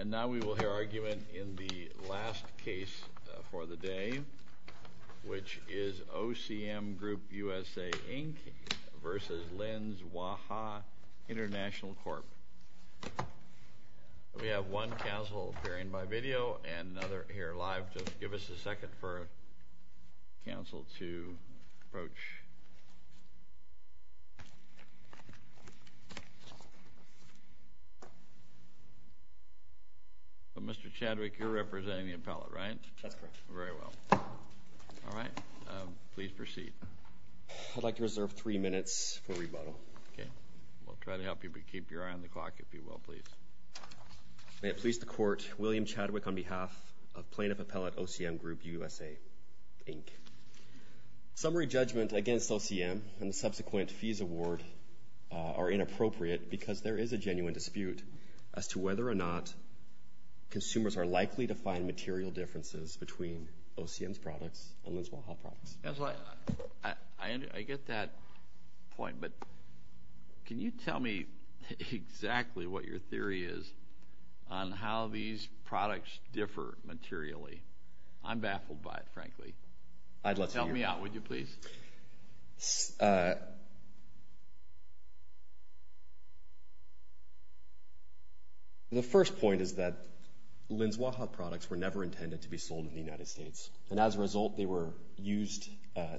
And now we will hear argument in the last case for the day, which is OCM Group USA, Inc. v. Lin's Waha International Corp. We have one counsel appearing by video and another here live. Give us a second for counsel to approach. Mr. Chadwick, you're representing the appellate, right? That's correct. Very well. All right. Please proceed. I'd like to reserve three minutes for rebuttal. Okay. We'll try to help you, but keep your eye on the clock, if you will, please. May it please the Court, William Chadwick on behalf of Plaintiff Appellate OCM Group USA, Inc. Summary judgment against OCM and the subsequent fees award are inappropriate because there is a genuine dispute as to whether or not consumers are likely to find material differences between OCM's products and Lin's Waha products. I get that point, but can you tell me exactly what your theory is on how these products differ materially? I'm baffled by it, frankly. Tell me out, would you please? The first point is that Lin's Waha products were never intended to be sold in the United States, and as a result, they were used,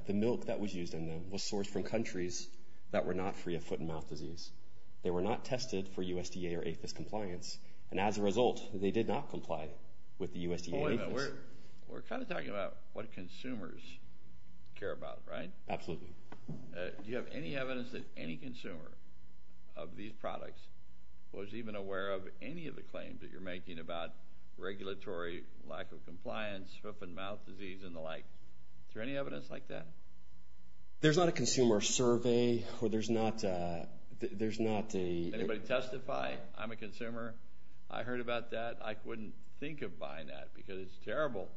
the milk that was used in them was sourced from countries that were not free of foot and mouth disease. They were not tested for USDA or APHIS compliance, and as a result, they did not comply with the USDA and APHIS. We're kind of talking about what consumers care about, right? Absolutely. Do you have any evidence that any consumer of these products was even aware of any of the claims that you're making about regulatory lack of compliance, foot and mouth disease, and the like? Is there any evidence like that? There's not a consumer survey, or there's not a— Can anybody testify? I'm a consumer. I heard about that. I wouldn't think of buying that because it's terrible.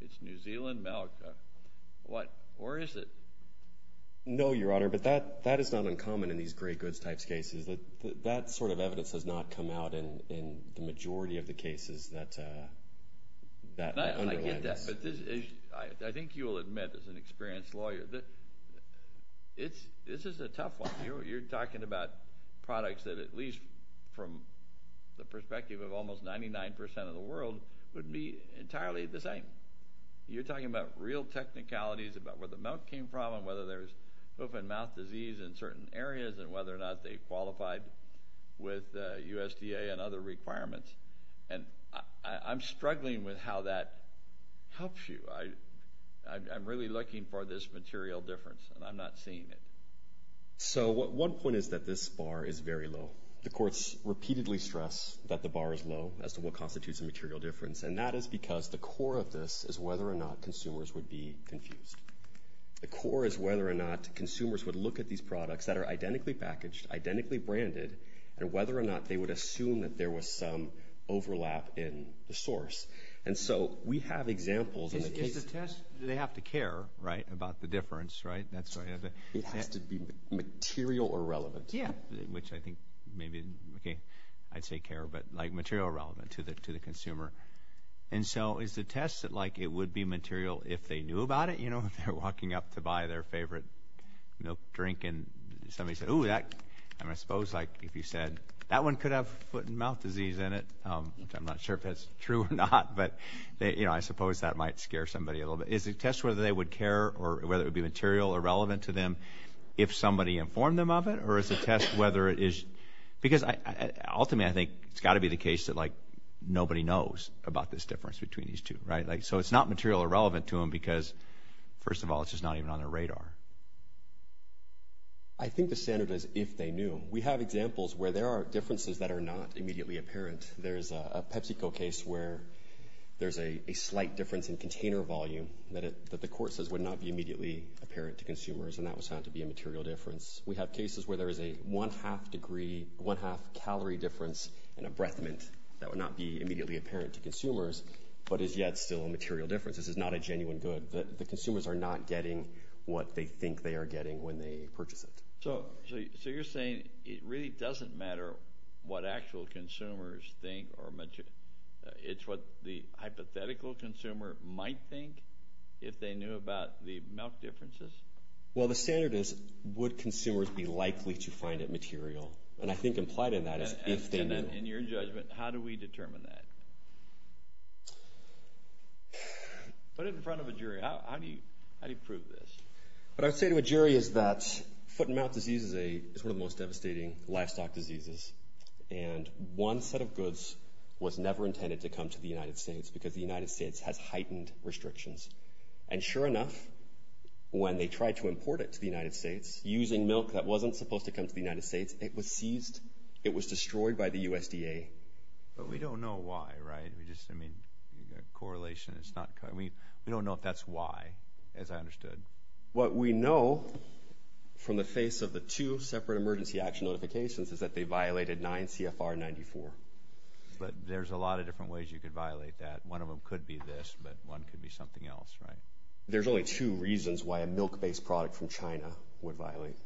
It's New Zealand milk. Or is it? No, Your Honor, but that is not uncommon in these great goods type cases. That sort of evidence has not come out in the majority of the cases that underline this. I get that, but I think you will admit as an experienced lawyer that this is a tough one. You're talking about products that at least from the perspective of almost 99 percent of the world would be entirely the same. You're talking about real technicalities about where the milk came from and whether there's foot and mouth disease in certain areas and whether or not they qualified with USDA and other requirements. And I'm struggling with how that helps you. I'm really looking for this material difference, and I'm not seeing it. So one point is that this bar is very low. The courts repeatedly stress that the bar is low as to what constitutes a material difference, and that is because the core of this is whether or not consumers would be confused. The core is whether or not consumers would look at these products that are identically packaged, identically branded, and whether or not they would assume that there was some overlap in the source. And so we have examples in the case. They have to care, right, about the difference, right? It has to be material or relevant. Yeah, which I think maybe I'd say care, but like material or relevant to the consumer. And so is the test that, like, it would be material if they knew about it, you know, if they're walking up to buy their favorite milk drink and somebody said, ooh, I suppose like if you said that one could have foot and mouth disease in it, which I'm not sure if that's true or not, but, you know, I suppose that might scare somebody a little bit. Is the test whether they would care or whether it would be material or relevant to them if somebody informed them of it, or is the test whether it is, because ultimately I think it's got to be the case that, like, nobody knows about this difference between these two, right? So it's not material or relevant to them because, first of all, it's just not even on their radar. I think the standard is if they knew. We have examples where there are differences that are not immediately apparent. There's a PepsiCo case where there's a slight difference in container volume that the court says would not be immediately apparent to consumers, and that was found to be a material difference. We have cases where there is a one-half degree, one-half calorie difference in a breath mint that would not be immediately apparent to consumers, but is yet still a material difference. This is not a genuine good. The consumers are not getting what they think they are getting when they purchase it. So you're saying it really doesn't matter what actual consumers think, it's what the hypothetical consumer might think if they knew about the milk differences? Well, the standard is would consumers be likely to find it material? And I think implied in that is if they knew. And in your judgment, how do we determine that? Put it in front of a jury. How do you prove this? What I would say to a jury is that foot-and-mouth disease is one of the most devastating livestock diseases, and one set of goods was never intended to come to the United States because the United States has heightened restrictions. And sure enough, when they tried to import it to the United States, using milk that wasn't supposed to come to the United States, it was seized. It was destroyed by the USDA. But we don't know why, right? I mean, you've got correlation. We don't know if that's why, as I understood. What we know from the face of the two separate emergency action notifications is that they violated 9 CFR 94. But there's a lot of different ways you could violate that. One of them could be this, but one could be something else, right? There's only two reasons why a milk-based product from China would violate.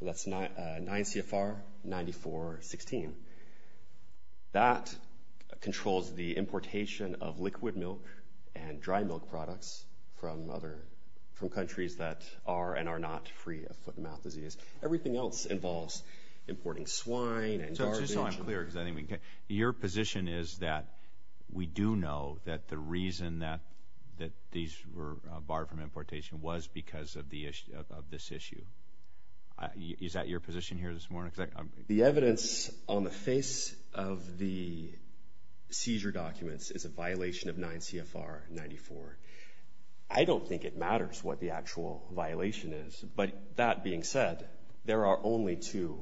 That's 9 CFR 94.16. That controls the importation of liquid milk and dry milk products from countries that are and are not free of foot-and-mouth disease. Everything else involves importing swine and garbage. Your position is that we do know that the reason that these were barred from importation was because of this issue. Is that your position here this morning? The evidence on the face of the seizure documents is a violation of 9 CFR 94. I don't think it matters what the actual violation is. But that being said, there are only two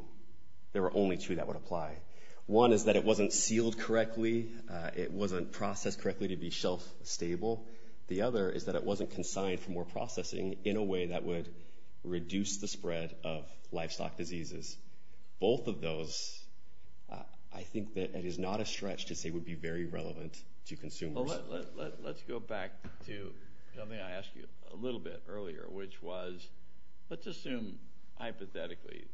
that would apply. One is that it wasn't sealed correctly. It wasn't processed correctly to be shelf-stable. The other is that it wasn't consigned for more processing in a way that would reduce the spread of livestock diseases. Both of those, I think that it is not a stretch to say would be very relevant to consumers. Well, let's go back to something I asked you a little bit earlier, which was let's assume hypothetically,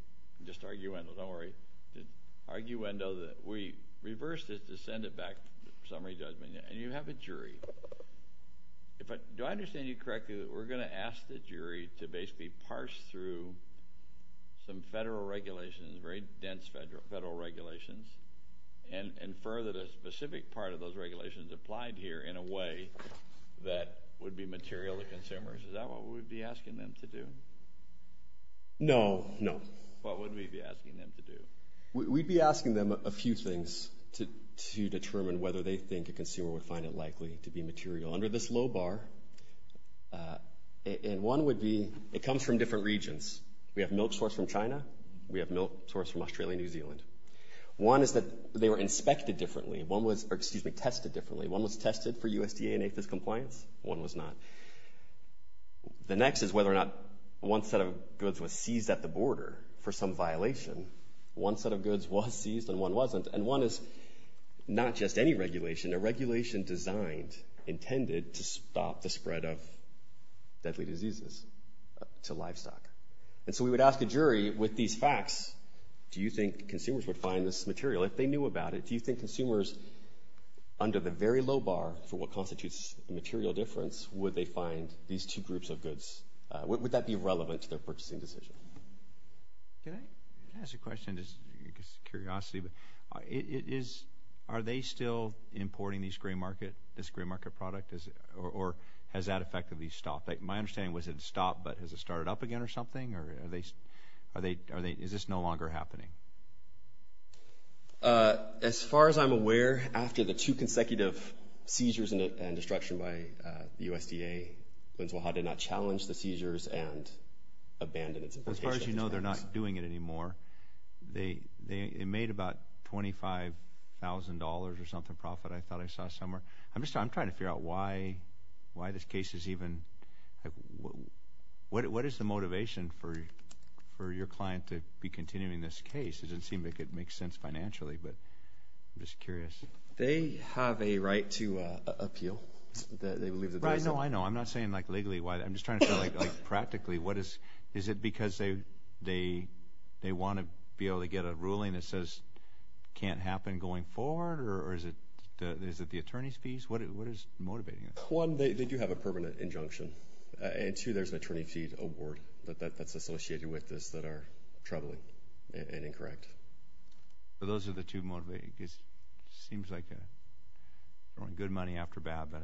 just arguendo, don't worry. The arguendo that we reversed is to send it back to summary judgment, and you have a jury. Do I understand you correctly that we're going to ask the jury to basically parse through some federal regulations, very dense federal regulations, and further the specific part of those regulations applied here in a way that would be material to consumers? Is that what we'd be asking them to do? No, no. What would we be asking them to do? We'd be asking them a few things to determine whether they think a consumer would find it likely to be material under this low bar. And one would be it comes from different regions. We have milk source from China. We have milk source from Australia and New Zealand. One is that they were inspected differently, or, excuse me, tested differently. One was tested for USDA and APHIS compliance. One was not. The next is whether or not one set of goods was seized at the border for some violation. One set of goods was seized and one wasn't. And one is not just any regulation, a regulation designed, intended to stop the spread of deadly diseases to livestock. And so we would ask a jury with these facts, do you think consumers would find this material if they knew about it? Do you think consumers, under the very low bar for what constitutes a material difference, would they find these two groups of goods? Would that be relevant to their purchasing decision? Can I ask a question just out of curiosity? Are they still importing this gray market product, or has that effectively stopped? My understanding was it stopped, but has it started up again or something? Or is this no longer happening? As far as I'm aware, after the two consecutive seizures and destruction by the USDA, Binz-Wahhab did not challenge the seizures and abandoned its importation. As far as you know, they're not doing it anymore. They made about $25,000 or something profit, I thought I saw somewhere. I'm just trying to figure out why this case is even – what is the motivation for your client to be continuing this case? It doesn't seem to make sense financially, but I'm just curious. They have a right to appeal. I know, I know. I'm not saying like legally. I'm just trying to say like practically, is it because they want to be able to get a ruling that says it can't happen going forward? Or is it the attorney's fees? What is motivating it? One, they do have a permanent injunction. And two, there's an attorney fee award that's associated with this that are troubling and incorrect. Those are the two motivating – it seems like they're throwing good money after bad. But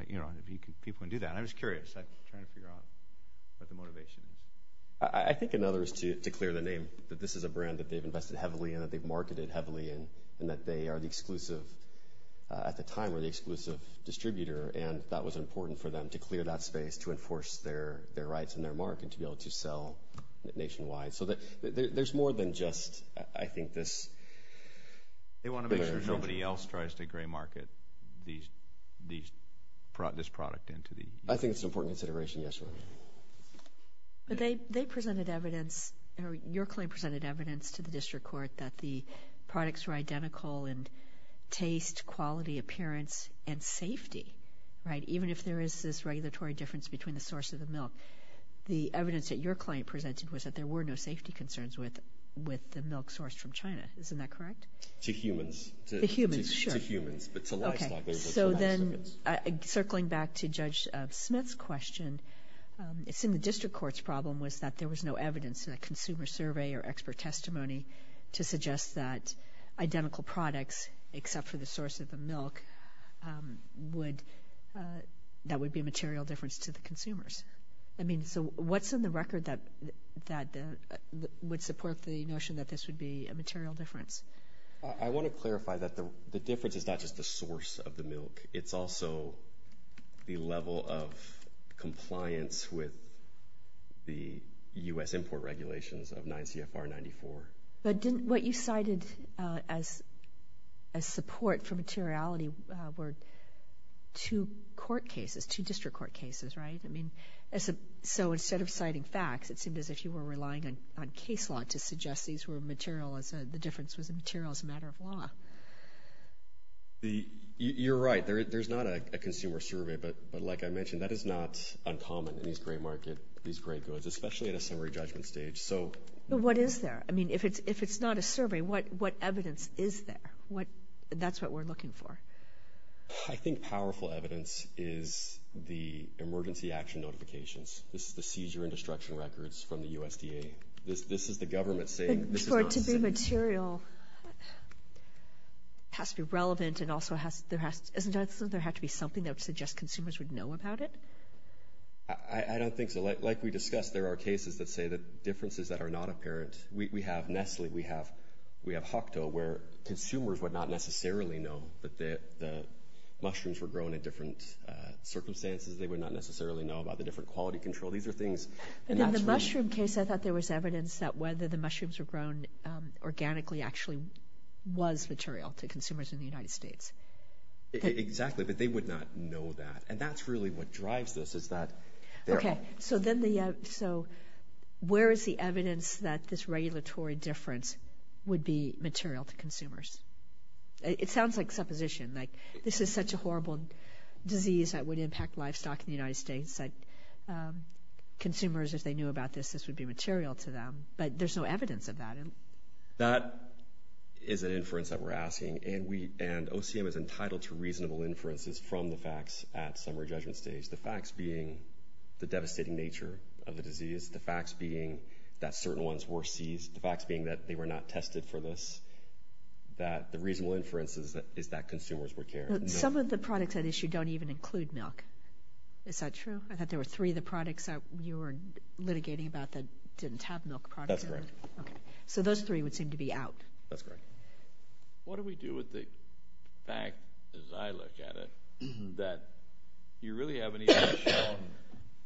people can do that. I'm just curious. I'm trying to figure out what the motivation is. I think another is to clear the name that this is a brand that they've invested heavily in, that they've marketed heavily in, and that they are the exclusive – at the time were the exclusive distributor, and that was important for them to clear that space to enforce their rights and their mark and to be able to sell nationwide. So there's more than just, I think, this. They want to make sure nobody else tries to gray market this product into the – I think it's an important consideration, yes, Your Honor. But they presented evidence – or your client presented evidence to the district court that the products were identical in taste, quality, appearance, and safety, right, even if there is this regulatory difference between the source of the milk. The evidence that your client presented was that there were no safety concerns with the milk sourced from China. Isn't that correct? To humans. To humans, sure. To humans, but to livestock. So then circling back to Judge Smith's question, it's in the district court's problem was that there was no evidence in a consumer survey or expert testimony to suggest that identical products except for the source of the milk would – that would be a material difference to the consumers. I mean, so what's in the record that would support the notion that this would be a material difference? I want to clarify that the difference is not just the source of the milk. It's also the level of compliance with the U.S. import regulations of 9 CFR 94. But didn't what you cited as support for materiality were two court cases, two district court cases, right? I mean, so instead of citing facts, it seemed as if you were relying on case law to suggest these were material – the difference was material as a matter of law. You're right. There's not a consumer survey. But like I mentioned, that is not uncommon in these grey markets, these grey goods, especially at a summary judgment stage. So what is there? I mean, if it's not a survey, what evidence is there? That's what we're looking for. I think powerful evidence is the emergency action notifications. This is the seizure and destruction records from the USDA. This is the government saying this is not – For it to be material, it has to be relevant and also there has to – isn't there something that would suggest consumers would know about it? I don't think so. Like we discussed, there are cases that say that differences that are not apparent – we have Nestle, we have Hukdo, where consumers would not necessarily know that the mushrooms were grown in different circumstances. They would not necessarily know about the different quality control. These are things – But in the mushroom case, I thought there was evidence that whether the mushrooms were grown organically actually was material to consumers in the United States. Exactly, but they would not know that. And that's really what drives this is that they're – Okay, so where is the evidence that this regulatory difference would be material to consumers? It sounds like supposition, like this is such a horrible disease that would impact livestock in the United States. Consumers, if they knew about this, this would be material to them, but there's no evidence of that. That is an inference that we're asking, and OCM is entitled to reasonable inferences from the facts at summary judgment stage, the facts being the devastating nature of the disease, the facts being that certain ones were seized, the facts being that they were not tested for this, that the reasonable inference is that consumers would care. Some of the products at issue don't even include milk. Is that true? I thought there were three of the products that you were litigating about that didn't have milk products in it. That's correct. Okay, so those three would seem to be out. That's correct. What do we do with the fact, as I look at it, that you really haven't even shown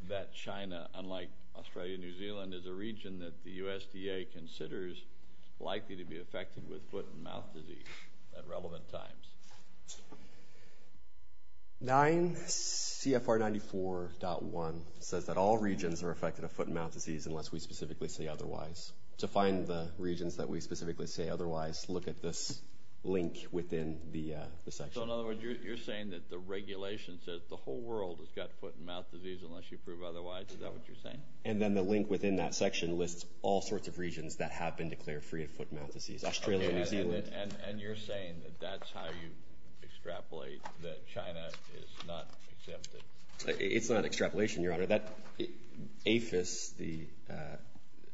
that China, unlike Australia and New Zealand, is a region that the USDA considers likely to be affected with foot and mouth disease at relevant times? 9 CFR 94.1 says that all regions are affected with foot and mouth disease unless we specifically say otherwise. To find the regions that we specifically say otherwise, look at this link within the section. So, in other words, you're saying that the regulation says the whole world has got foot and mouth disease unless you prove otherwise? Is that what you're saying? And then the link within that section lists all sorts of regions that have been declared free of foot and mouth disease. Australia and New Zealand. And you're saying that that's how you extrapolate that China is not exempted? It's not extrapolation, Your Honor. APHIS,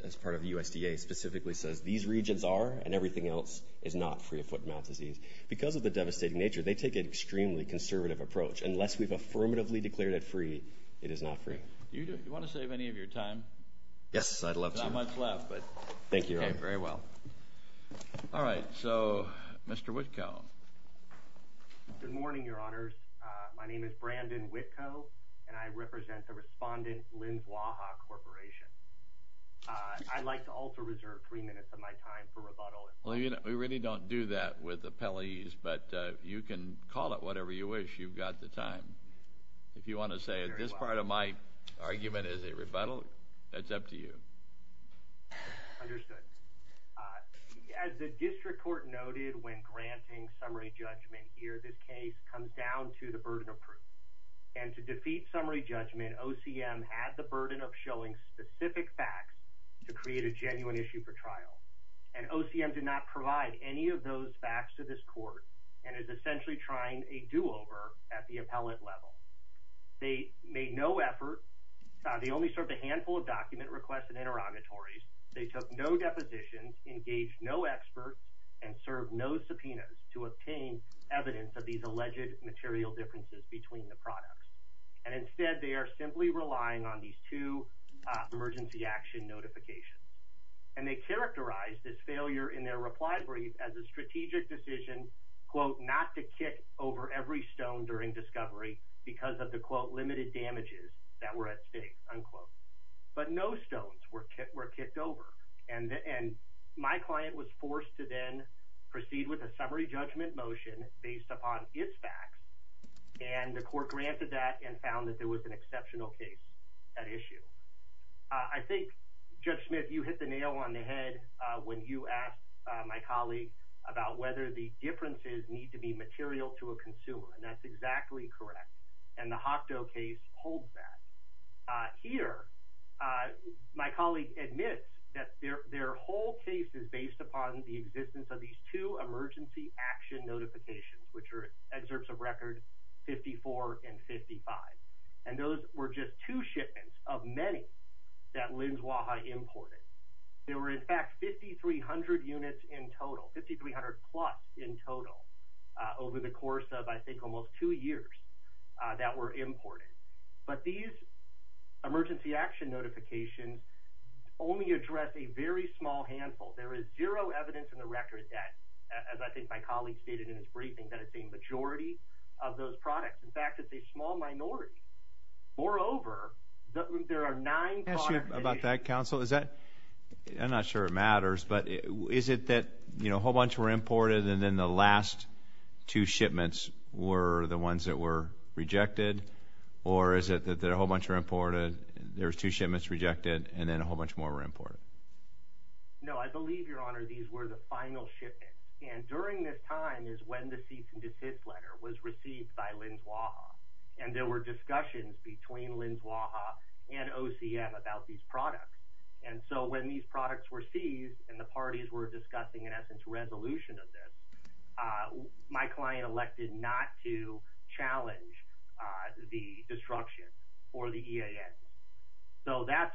as part of the USDA, specifically says these regions are and everything else is not free of foot and mouth disease. Because of the devastating nature, they take an extremely conservative approach. Unless we've affirmatively declared it free, it is not free. Do you want to save any of your time? Yes, I'd love to. There's not much left. But thank you, Your Honor. Okay. Very well. All right. So, Mr. Witko. Good morning, Your Honors. My name is Brandon Witko, and I represent the Respondent Lynn Waha Corporation. I'd like to also reserve three minutes of my time for rebuttal. Well, you know, we really don't do that with appellees, but you can call it whatever you wish. You've got the time. If you want to say this part of my argument is a rebuttal, that's up to you. Understood. As the district court noted when granting summary judgment here, this case comes down to the burden of proof. And to defeat summary judgment, OCM had the burden of showing specific facts to create a genuine issue for trial. And OCM did not provide any of those facts to this court and is essentially trying a do-over at the appellate level. They made no effort. They only served a handful of document requests and interrogatories. They took no depositions, engaged no experts, and served no subpoenas to obtain evidence of these alleged material differences between the products. And instead, they are simply relying on these two emergency action notifications. And they characterized this failure in their reply brief as a strategic decision, quote, unquote. But no stones were kicked over. And my client was forced to then proceed with a summary judgment motion based upon its facts. And the court granted that and found that there was an exceptional case at issue. I think, Judge Smith, you hit the nail on the head when you asked my colleague about whether the differences need to be material to a consumer. And that's exactly correct. And the HOCTO case holds that. Here, my colleague admits that their whole case is based upon the existence of these two emergency action notifications, which are excerpts of record 54 and 55. And those were just two shipments of many that Linz-Waha imported. There were, in fact, 5,300 units in total, 5,300-plus in total, over the course of, I think, almost two years that were imported. But these emergency action notifications only address a very small handful. There is zero evidence in the record that, as I think my colleague stated in his briefing, that it's a majority of those products. In fact, it's a small minority. Moreover, there are nine products. Can I ask you about that, counsel? I'm not sure it matters, but is it that a whole bunch were imported and then the last two shipments were the ones that were rejected? Or is it that a whole bunch were imported, there were two shipments rejected, and then a whole bunch more were imported? No, I believe, Your Honor, these were the final shipments. And during this time is when the cease and desist letter was received by Linz-Waha. And there were discussions between Linz-Waha and OCM about these products. My client elected not to challenge the destruction for the EAN. So that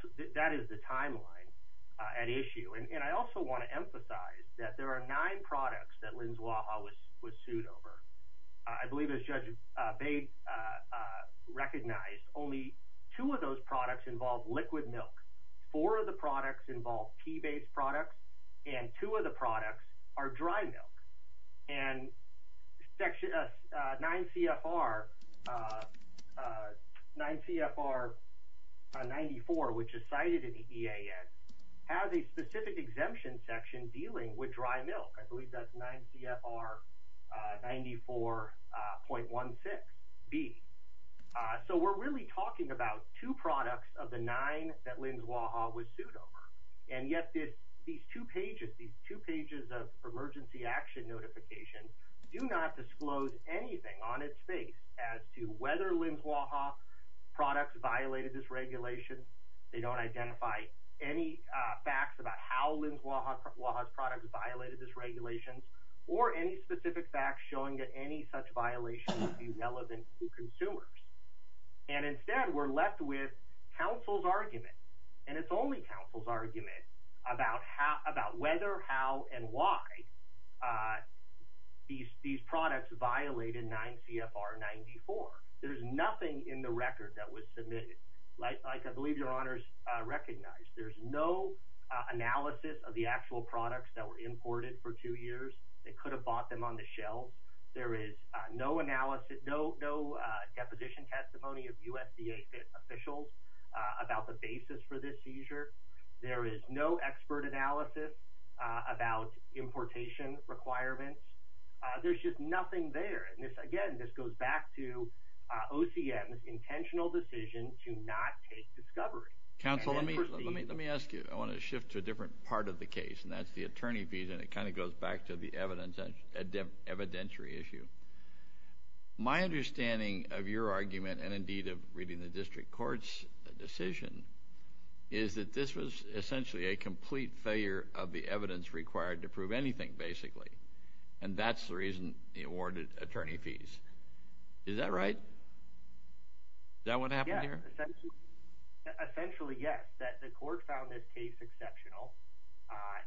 is the timeline at issue. And I also want to emphasize that there are nine products that Linz-Waha was sued over. I believe, as Judge Bates recognized, only two of those products involve liquid milk. Four of the products involve pea-based products, and two of the products are dry milk. And 9 CFR 94, which is cited in the EAN, has a specific exemption section dealing with dry milk. I believe that's 9 CFR 94.16B. So we're really talking about two products of the nine that Linz-Waha was sued over. And yet these two pages of emergency action notification do not disclose anything on its face as to whether Linz-Waha products violated this regulation. They don't identify any facts about how Linz-Waha's products violated this regulation or any specific facts showing that any such violation would be relevant to consumers. And instead, we're left with counsel's argument, and it's only counsel's argument, about whether, how, and why these products violated 9 CFR 94. There's nothing in the record that was submitted, like I believe Your Honors recognized. There's no analysis of the actual products that were imported for two years. They could have bought them on the shelf. There is no deposition testimony of USDA officials about the basis for this seizure. There is no expert analysis about importation requirements. There's just nothing there. Again, this goes back to OCM's intentional decision to not take discovery. Counsel, let me ask you. I want to shift to a different part of the case, and that's the attorney fees, and it kind of goes back to the evidentiary issue. My understanding of your argument and, indeed, of reading the district court's decision is that this was essentially a complete failure of the evidence required to prove anything, basically, and that's the reason they awarded attorney fees. Is that right? Is that what happened here? Essentially, yes, that the court found this case exceptional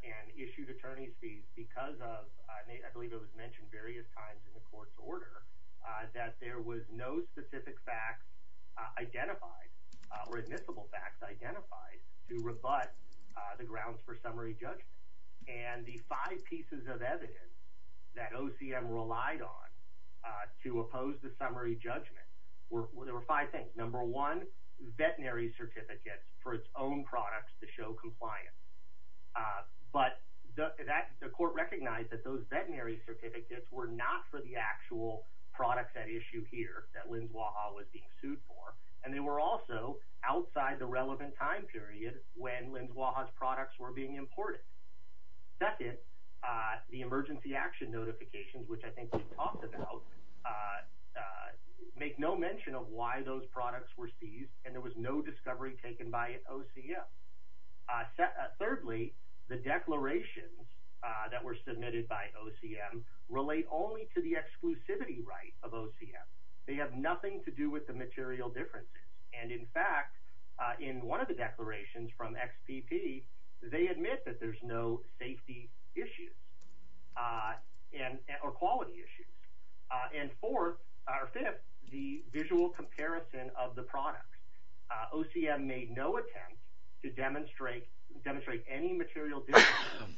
and issued attorney fees because of, I believe it was mentioned various times in the court's order, that there was no specific facts identified or admissible facts identified to rebut the grounds for summary judgment. The five pieces of evidence that OCM relied on to oppose the summary judgment, there were five things. Number one, veterinary certificates for its own products to show compliance. But the court recognized that those veterinary certificates were not for the actual products at issue here that Linz-Waha was being sued for, and they were also outside the relevant time period when Linz-Waha's products were being imported. Second, the emergency action notifications, which I think we've talked about, make no mention of why those products were seized and there was no discovery taken by OCM. Thirdly, the declarations that were submitted by OCM relate only to the exclusivity right of OCM. They have nothing to do with the material differences. And in fact, in one of the declarations from XPP, they admit that there's no safety issues or quality issues. And fourth, or fifth, the visual comparison of the products. OCM made no attempt to demonstrate any material differences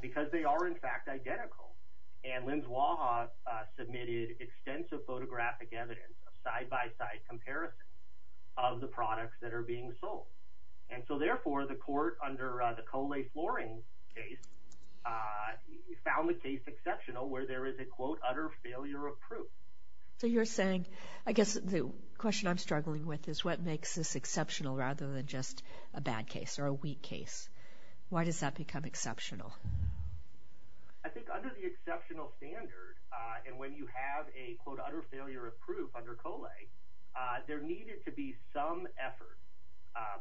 because they are, in fact, identical. And Linz-Waha submitted extensive photographic evidence, a side-by-side comparison of the products that are being sold. And so therefore, the court, under the Coley-Floring case, found the case exceptional where there is a, quote, utter failure of proof. So you're saying, I guess the question I'm struggling with is what makes this exceptional rather than just a bad case or a weak case? Why does that become exceptional? I think under the exceptional standard, and when you have a, quote, utter failure of proof under Coley, there needed to be some effort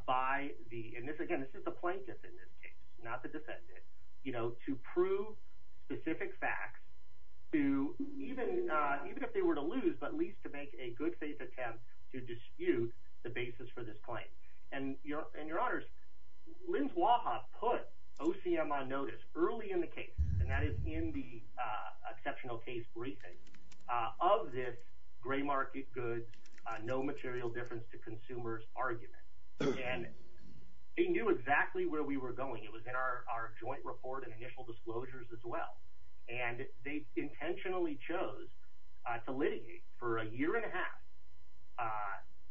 by the, and this, again, this is the plaintiff in this case, not the defendant, you know, to prove specific facts to, even if they were to lose, but at least to make a good faith attempt to dispute the basis for this claim. And, Your Honors, Linz-Waha put OCM on notice early in the case, and that is in the exceptional case briefing, of this gray market goods, no material difference to consumers argument. And they knew exactly where we were going. It was in our joint report and initial disclosures as well. And they intentionally chose to litigate for a year and a half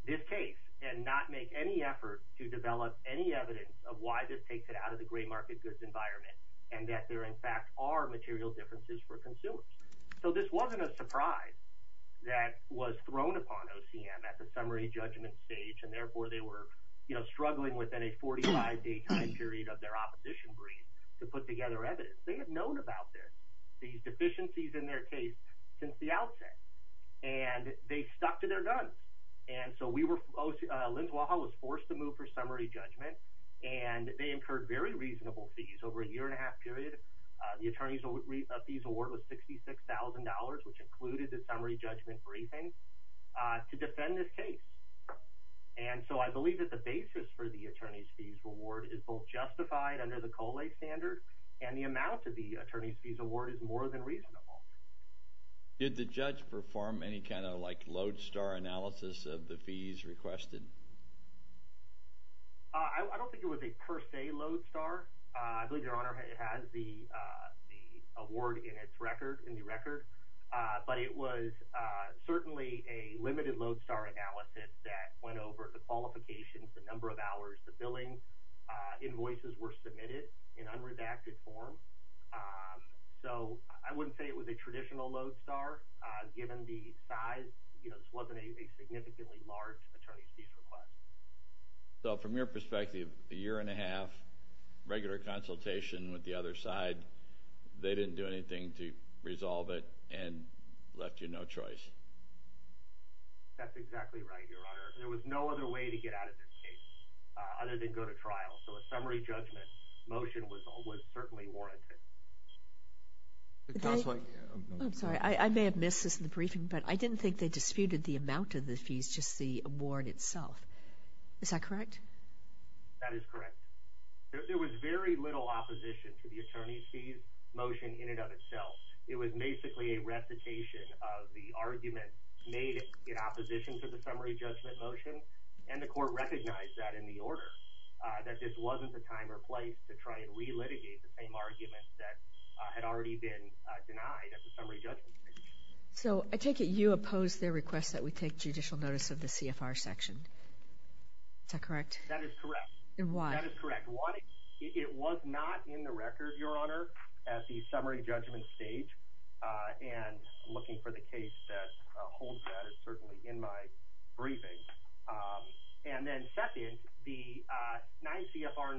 this case and not make any effort to develop any evidence of why this takes it out of the gray market goods environment and that there, in fact, are material differences for consumers. So this wasn't a surprise that was thrown upon OCM at the summary judgment stage, and therefore they were, you know, struggling within a 45-day time period of their opposition brief to put together evidence. They had known about this, these deficiencies in their case, since the outset. And they stuck to their guns. And so we were, Linz-Waha was forced to move for summary judgment, and they incurred very reasonable fees over a year and a half period. The attorney's fees award was $66,000, which included the summary judgment briefing, to defend this case. And so I believe that the basis for the attorney's fees reward is both justified under the COLA standard and the amount of the attorney's fees award is more than reasonable. Did the judge perform any kind of, like, lodestar analysis of the fees requested? I don't think it was a per se lodestar. I believe Your Honor has the award in its record, in the record. But it was certainly a limited lodestar analysis that went over the qualifications, the number of hours, the billing, invoices were submitted in unredacted form. So I wouldn't say it was a traditional lodestar, given the size. You know, this wasn't a significantly large attorney's fees request. So from your perspective, a year and a half, regular consultation with the other side, they didn't do anything to resolve it and left you no choice? That's exactly right, Your Honor. There was no other way to get out of this case, other than go to trial. So a summary judgment motion was certainly warranted. I'm sorry, I may have missed this in the briefing, but I didn't think they disputed the amount of the fees, just the award itself. Is that correct? That is correct. There was very little opposition to the attorney's fees motion in and of itself. It was basically a recitation of the argument made in opposition to the summary judgment motion, and the court recognized that in the order, that this wasn't the time or place to try and re-litigate the same argument that had already been denied at the summary judgment stage. So I take it you opposed their request that we take judicial notice of the CFR section. Is that correct? That is correct. And why? That is correct. Why? It was not in the record, Your Honor, at the summary judgment stage, and I'm looking for the case that holds that. It's certainly in my briefing. And then second, the 9 CFR 94,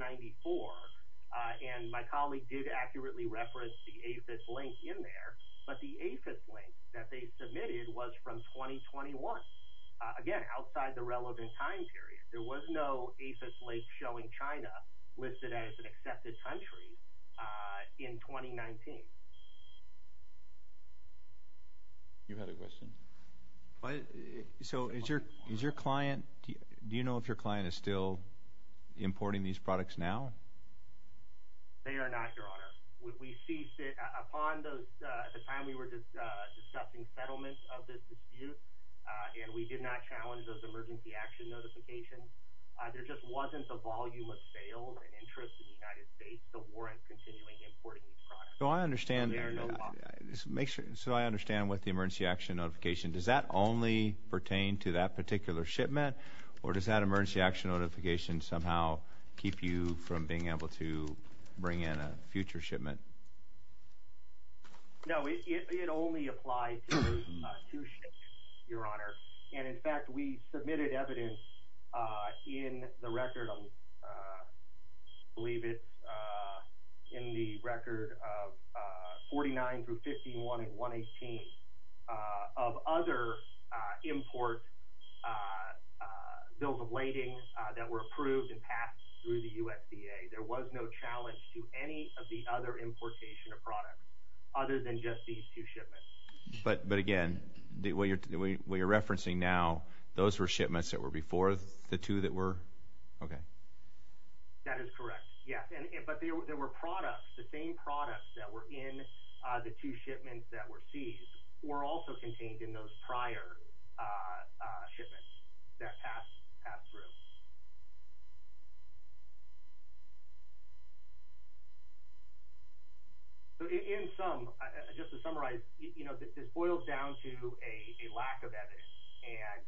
and my colleague did accurately reference the AFIS link in there, but the AFIS link that they submitted was from 2021, again, outside the relevant time period. There was no AFIS link showing China listed as an accepted country in 2019. You had a question? So is your client – do you know if your client is still importing these products now? They are not, Your Honor. We ceased it upon the time we were just discussing settlement of this dispute, and we did not challenge those emergency action notifications. There just wasn't the volume of sales and interest in the United States to warrant continuing importing these products. So I understand – so I understand what the emergency action notification – does that only pertain to that particular shipment, or does that emergency action notification somehow keep you from being able to bring in a future shipment? No, it only applies to two shipments, Your Honor. And in fact, we submitted evidence in the record of – I believe it's in the record of 49 through 51 and 118 of other import bills of lading that were approved and passed through the USDA. There was no challenge to any of the other importation of products other than just these two shipments. But again, what you're referencing now, those were shipments that were before the two that were – okay. That is correct, yes. But there were products – the same products that were in the two shipments that were seized were also contained in those prior shipments that passed through. So in sum, just to summarize, you know, this boils down to a lack of evidence. And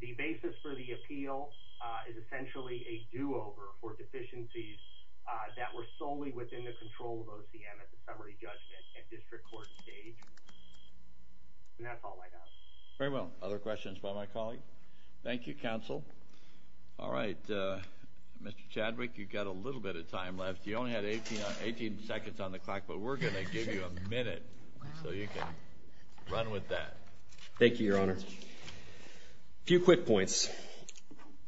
the basis for the appeal is essentially a do-over for deficiencies that were solely within the control of OCM at the summary judgment and district court stage. And that's all I know. Very well. Other questions by my colleague? Thank you, counsel. All right. Mr. Chadwick, you've got a little bit of time left. You only had 18 seconds on the clock, but we're going to give you a minute so you can run with that. Thank you, Your Honor. A few quick points.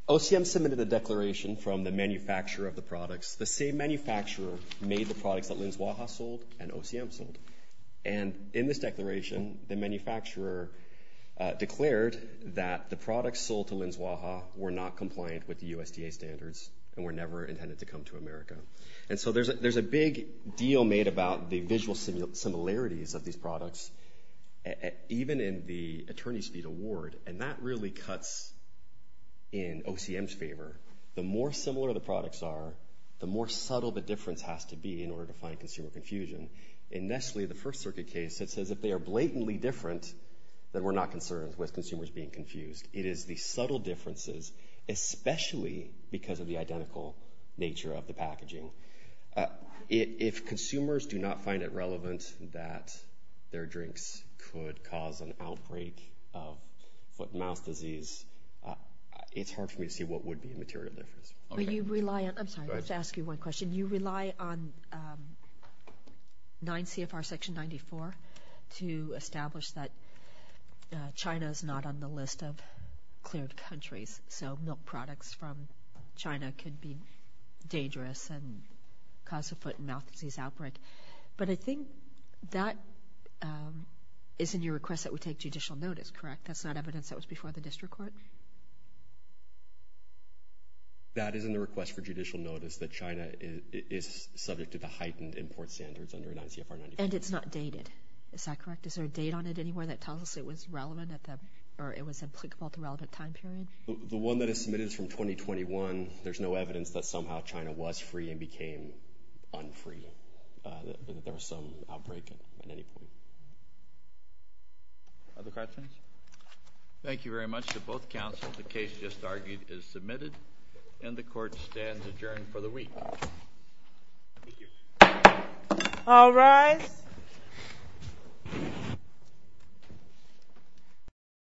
OCM submitted a declaration from the manufacturer of the products. The same manufacturer made the products that Linsuaha sold and OCM sold. And in this declaration, the manufacturer declared that the products sold to Linsuaha were not compliant with the USDA standards and were never intended to come to America. And so there's a big deal made about the visual similarities of these products, even in the Attorney's Fee Award, and that really cuts in OCM's favor. The more similar the products are, the more subtle the difference has to be in order to find consumer confusion. In Nestle, the First Circuit case, it says if they are blatantly different, then we're not concerned with consumers being confused. It is the subtle differences, especially because of the identical nature of the packaging. If consumers do not find it relevant that their drinks could cause an outbreak of foot-and-mouth disease, it's hard for me to see what would be a material difference. I'm sorry, I have to ask you one question. You rely on 9 CFR Section 94 to establish that China is not on the list of cleared countries, so milk products from China could be dangerous and cause a foot-and-mouth disease outbreak. But I think that is in your request that we take judicial notice, correct? That's not evidence that was before the district court? That is in the request for judicial notice that China is subject to the heightened import standards under 9 CFR 94. And it's not dated. Is that correct? Is there a date on it anywhere that tells us it was relevant or it was applicable at the relevant time period? The one that is submitted is from 2021. There's no evidence that somehow China was free and became unfree, that there was some outbreak at any point. Other questions? Thank you very much. To both counsels, the case just argued is submitted and the court stands adjourned for the week. All rise.